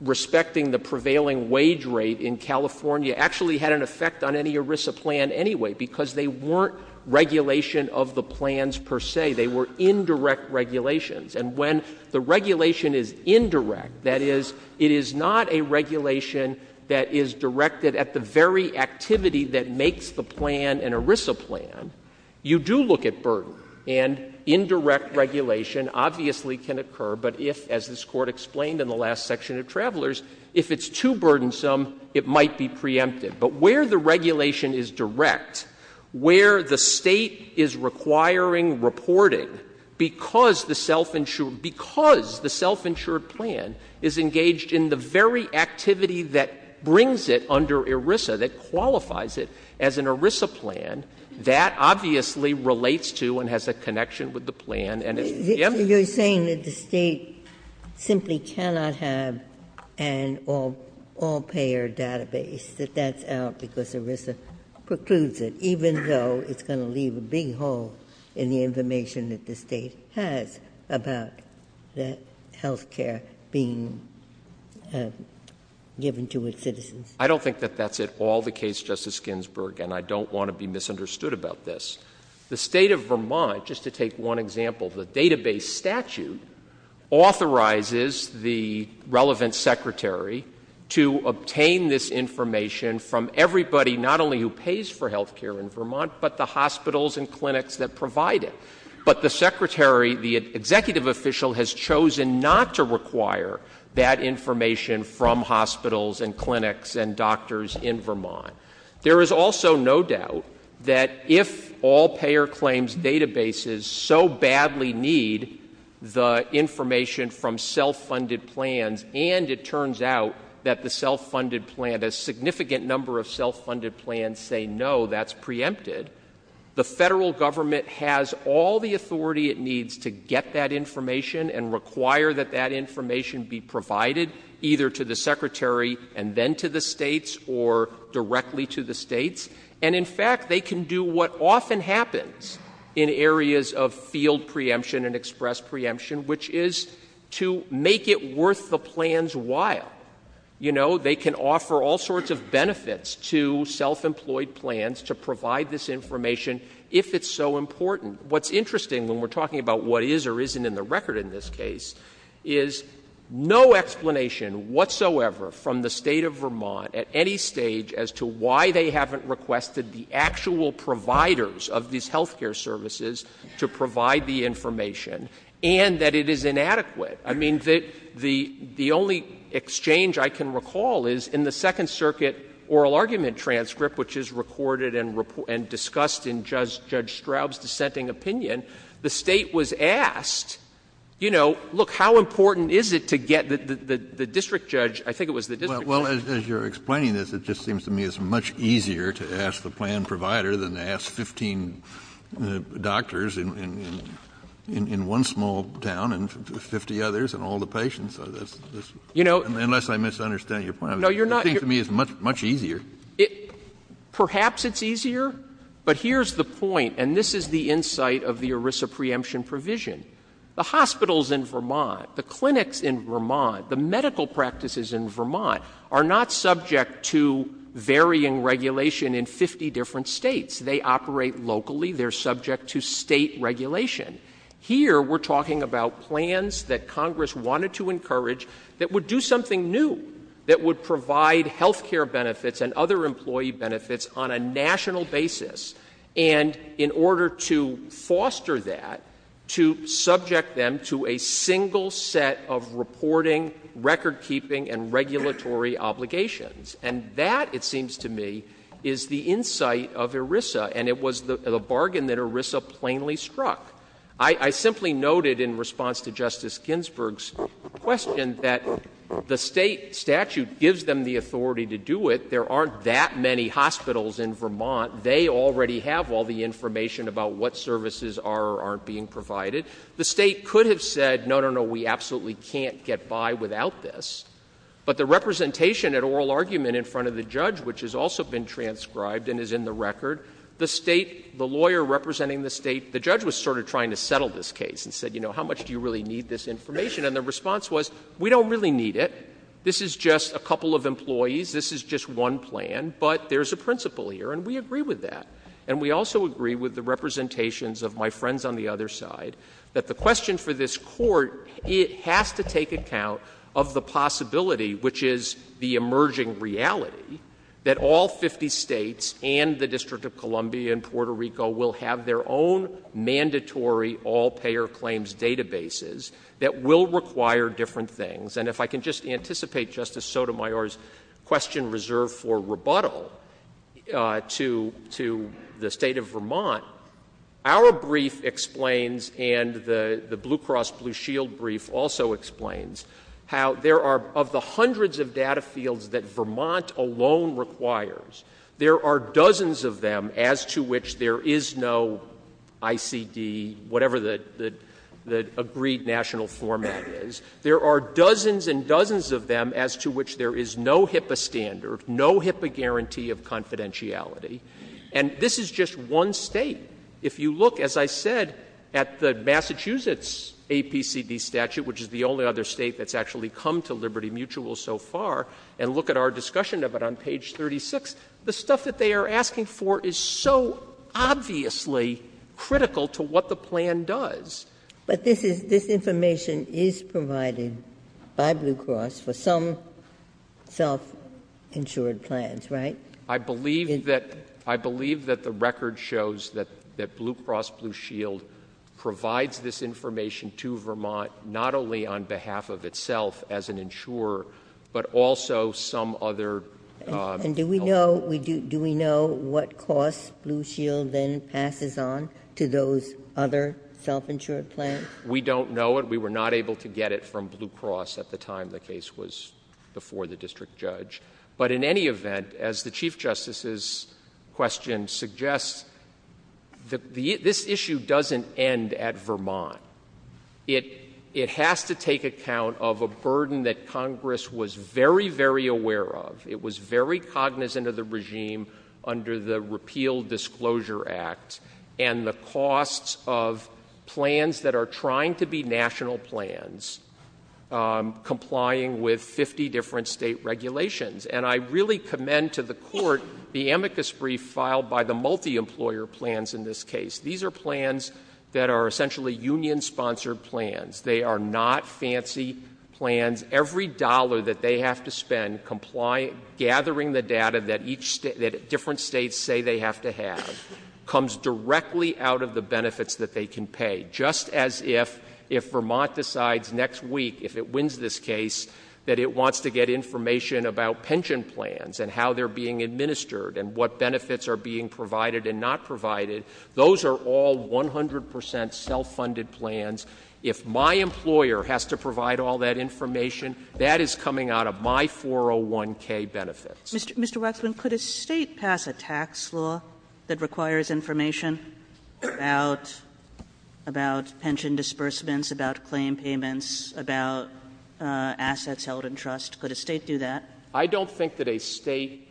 respecting the prevailing wage rate in California actually had an effect on any ERISA plan anyway, because they weren't regulation of the plans per se. They were indirect regulations. And when the regulation is indirect, that is, it is not a regulation that is directed at the very activity that makes the plan an ERISA plan, you do look at burden. And indirect regulation obviously can occur, but if, as this Court explained in the last section of Travelers, if it's too burdensome, it might be preempted. But where the regulation is direct, where the State is requiring reporting because the self-insured, because the self-insured plan is engaged in the very activity that brings it under ERISA, that qualifies it as an ERISA plan, that obviously relates to and has a connection with the plan. And it's, yes? So you're saying that the State simply cannot have an all-payer database, that that's out because ERISA precludes it, even though it's going to leave a big hole in the information that the State has about that health care being given to its citizens? I don't think that that's at all the case, Justice Ginsburg, and I don't want to be misunderstood about this. The State of Vermont, just to take one example, the database statute authorizes the relevant secretary to obtain this information from everybody, not only who pays for health care in Vermont, but the hospitals and clinics that provide it. But the secretary, the executive official, has chosen not to require that information from hospitals and clinics and doctors in Vermont. There is also no doubt that if all-payer claims databases so badly need the information from self-funded plans, and it turns out that the self-funded plan, a significant number of self-funded plans say no, that's preempted, the federal government has all the authority it needs to get that information and require that that information be provided either to the secretary and then to the States or directly to the States. And in fact, they can do what often happens in areas of field preemption and express preemption, which is to make it worth the plan's while. You know, they can offer all sorts of benefits to self-employed plans to provide this information if it's so important. What's interesting when we're talking about what is or isn't in the record in this case is no explanation whatsoever from the State of Vermont at any stage as to why they haven't requested the actual providers of these health care services to provide the information and that it is inadequate. I mean, the only exchange I can recall is in the Second Circuit oral argument transcript, which is recorded and discussed in Judge Straub's dissenting opinion, the State was asked, you know, look, how important is it to get the district judge, I think it was the district judge. Kennedy. Well, as you're explaining this, it just seems to me it's much easier to ask the plan provider than to ask 15 doctors in one small town and 50 others and all the patients, unless I'm misunderstanding your point. I think to me it's much easier. Waxman. Perhaps it's easier, but here's the point, and this is the insight of the ERISA preemption provision. The hospitals in Vermont, the clinics in Vermont, the medical practices in Vermont are not subject to varying regulation in 50 different States. They operate locally. They're subject to State regulation. Here we're talking about plans that Congress wanted to encourage that would do something new, that would provide health care benefits and other employee benefits on a national basis, and in order to foster that, to subject them to a single set of reporting, record keeping, and regulatory obligations, and that, it seems to me, is the insight of ERISA, and it was the bargain that ERISA plainly struck. I simply noted in response to Justice Ginsburg's question that the State statute gives them the authority to do it. There aren't that many hospitals in Vermont. They already have all the information about what services are or aren't being provided. The State could have said, no, no, no, we absolutely can't get by without this. But the representation at oral argument in front of the judge, which has also been transcribed and is in the record, the State, the lawyer representing the State, the judge was sort of trying to settle this case and said, you know, how much do you really need this information? And the response was, we don't really need it. This is just a couple of employees. This is just one plan, but there's a principle here, and we agree with that, and we also agree with the representations of my friends on the other side, that the question for this Court, it has to take account of the possibility, which is the emerging reality, that all 50 States and the District of Columbia and Puerto Rico will have their own mandatory all-payer claims databases that will require different things. And if I can just anticipate Justice Sotomayor's question reserved for rebuttal to the State of Vermont, our brief explains and the Blue Cross Blue Shield brief also explains how there are, of the hundreds of data fields that Vermont alone requires, there are dozens of them as to which there is no ICD, whatever the agreed national format is. There are dozens and dozens of them as to which there is no HIPAA standard, no HIPAA guarantee of confidentiality. And this is just one State. If you look, as I said, at the Massachusetts APCD statute, which is the only other State that's actually come to Liberty Mutual so far, and look at our discussion of it on page 36, the stuff that they are asking for is so obviously critical to what the plan does. But this is, this information is provided by Blue Cross for some self-insured plans, right? I believe that, I believe that the record shows that, that Blue Cross Blue Shield provides this information to Vermont, not only on behalf of itself as an insurer, but also some other. And do we know, do we know what costs Blue Shield then passes on to those other self-insured plans? We don't know it. We were not able to get it from Blue Cross at the time the case was before the district judge. But in any event, as the Chief Justice's question suggests, this issue doesn't end at Vermont. It has to take account of a burden that Congress was very, very aware of. It was very cognizant of the regime under the Repeal Disclosure Act, and the costs of plans that are trying to be national plans, complying with 50 different state regulations. And I really commend to the Court the amicus brief filed by the multi-employer plans in this case. These are plans that are essentially union-sponsored plans. They are not fancy plans. Every dollar that they have to spend gathering the data that different states say they have to have comes directly out of the benefits that they can pay. Just as if Vermont decides next week, if it wins this case, that it wants to get information about pension plans and how they're being administered and what benefits are being provided and not provided, those are all 100% self-funded plans. If my employer has to provide all that information, that is coming out of my 401k benefits. Mr. Waxman, could a state pass a tax law that requires information about pension disbursements, about claim payments, about assets held in trust? Could a state do that? I don't think that a state,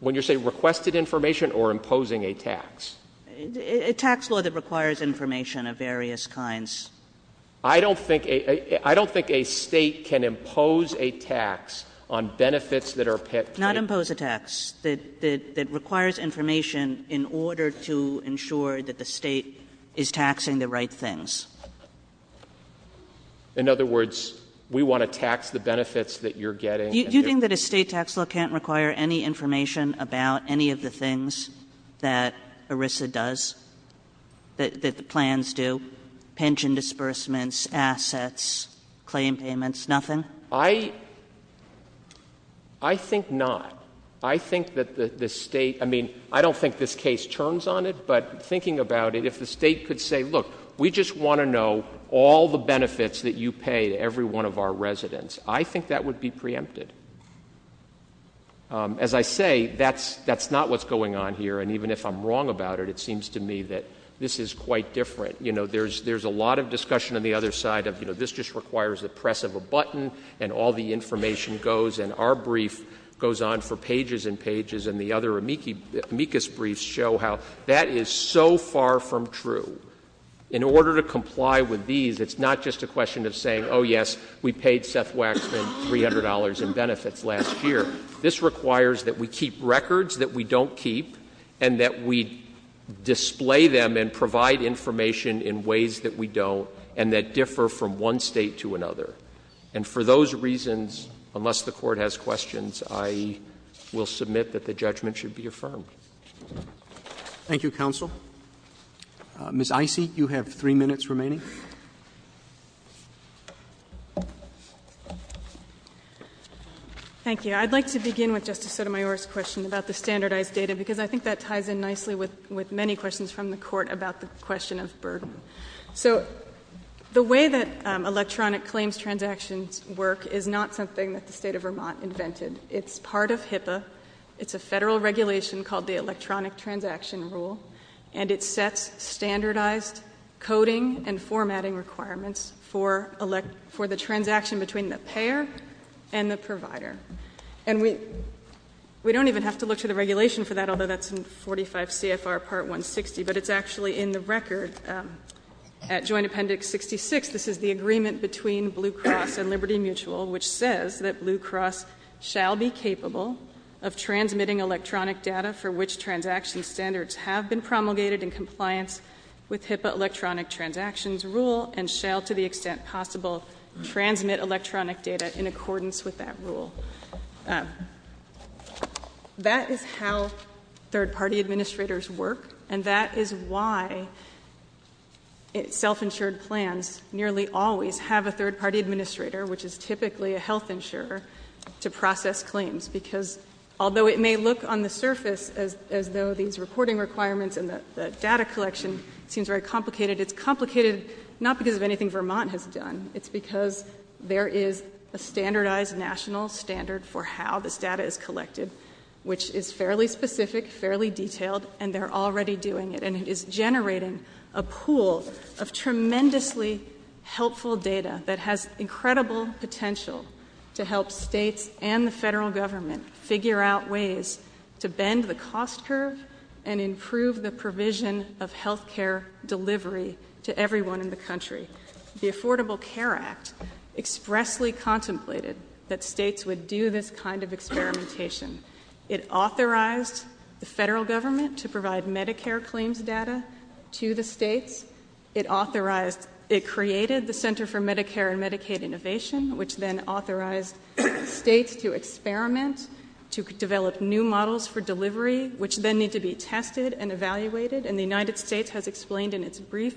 when you say requested information or imposing a tax. A tax law that requires information of various kinds. I don't think a state can impose a tax on benefits that are paid. Not impose a tax, that requires information in order to ensure that the state is taxing the right things. In other words, we want to tax the benefits that you're getting. Do you think that a state tax law can't require any information about any of the things that ERISA does, that the plans do? Pension disbursements, assets, claim payments, nothing? I think not. I think that the state, I mean, I don't think this case turns on it. But thinking about it, if the state could say, look, we just want to know all the benefits that you pay to every one of our residents, I think that would be preempted. As I say, that's not what's going on here. And even if I'm wrong about it, it seems to me that this is quite different. There's a lot of discussion on the other side of, this just requires the press of a button and all the information goes, and our brief goes on for pages and pages. And the other amicus briefs show how that is so far from true. In order to comply with these, it's not just a question of saying, yes, we paid Seth Waxman $300 in benefits last year. This requires that we keep records that we don't keep and that we display them and provide information in ways that we don't and that differ from one state to another. And for those reasons, unless the court has questions, I will submit that the judgment should be affirmed. Thank you, counsel. Ms. Icy, you have three minutes remaining. Thank you. I'd like to begin with Justice Sotomayor's question about the standardized data, because I think that ties in nicely with many questions from the court about the question of burden. So, the way that electronic claims transactions work is not something that the state of Vermont invented. It's part of HIPAA. It's a federal regulation called the Electronic Transaction Rule. And it sets standardized coding and formatting requirements for the transaction between the payer and the provider. And we don't even have to look to the regulation for that, although that's in 45 CFR Part 160. But it's actually in the record at Joint Appendix 66. This is the agreement between Blue Cross and Liberty Mutual, which says that Blue Cross shall be capable of transmitting electronic data for which transaction standards have been promulgated in compliance with HIPAA Electronic Transactions Rule, and shall, to the extent possible, transmit electronic data in accordance with that rule. That is how third party administrators work, and that is why self-insured plans nearly always have a third party administrator, which is typically a health insurer, to process claims, because although it may look on the surface as though these reporting requirements and the data collection seems very complicated, it's complicated not because of anything Vermont has done. It's because there is a standardized national standard for how this data is collected, which is fairly specific, fairly detailed, and they're already doing it. And it is generating a pool of tremendously helpful data that has incredible potential to help states and the federal government figure out ways to bend the cost curve and improve the provision of health care delivery to everyone in the country. The Affordable Care Act expressly contemplated that states would do this kind of experimentation. It authorized the federal government to provide Medicare claims data to the states. It created the Center for Medicare and Medicaid Innovation, which then authorized states to experiment, to develop new models for delivery, which then need to be tested and evaluated, and the United States has explained in its brief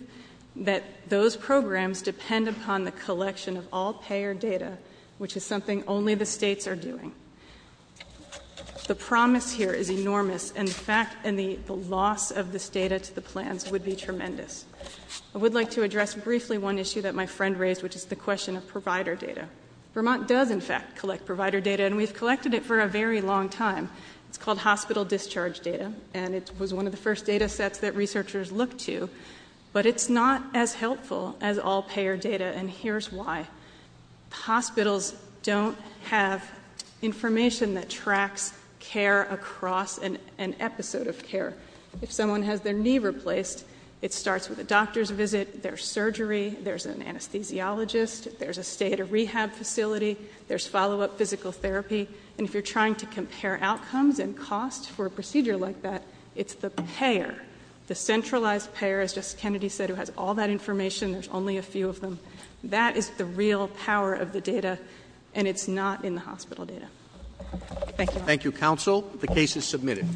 that those programs depend upon the collection of all payer data, which is something only the states are doing. The promise here is enormous, and the fact and the loss of this data to the plans would be tremendous. I would like to address briefly one issue that my friend raised, which is the question of provider data. Vermont does, in fact, collect provider data, and we've collected it for a very long time. It's called hospital discharge data, and it was one of the first data sets that researchers looked to. But it's not as helpful as all payer data, and here's why. Hospitals don't have information that tracks care across an episode of care. If someone has their knee replaced, it starts with a doctor's visit, their surgery, there's an anesthesiologist, there's a state of rehab facility, there's follow-up physical therapy. And if you're trying to compare outcomes and cost for a procedure like that, it's the payer. The centralized payer, as Justice Kennedy said, who has all that information, there's only a few of them. That is the real power of the data, and it's not in the hospital data. Thank you. Thank you, counsel. The case is submitted.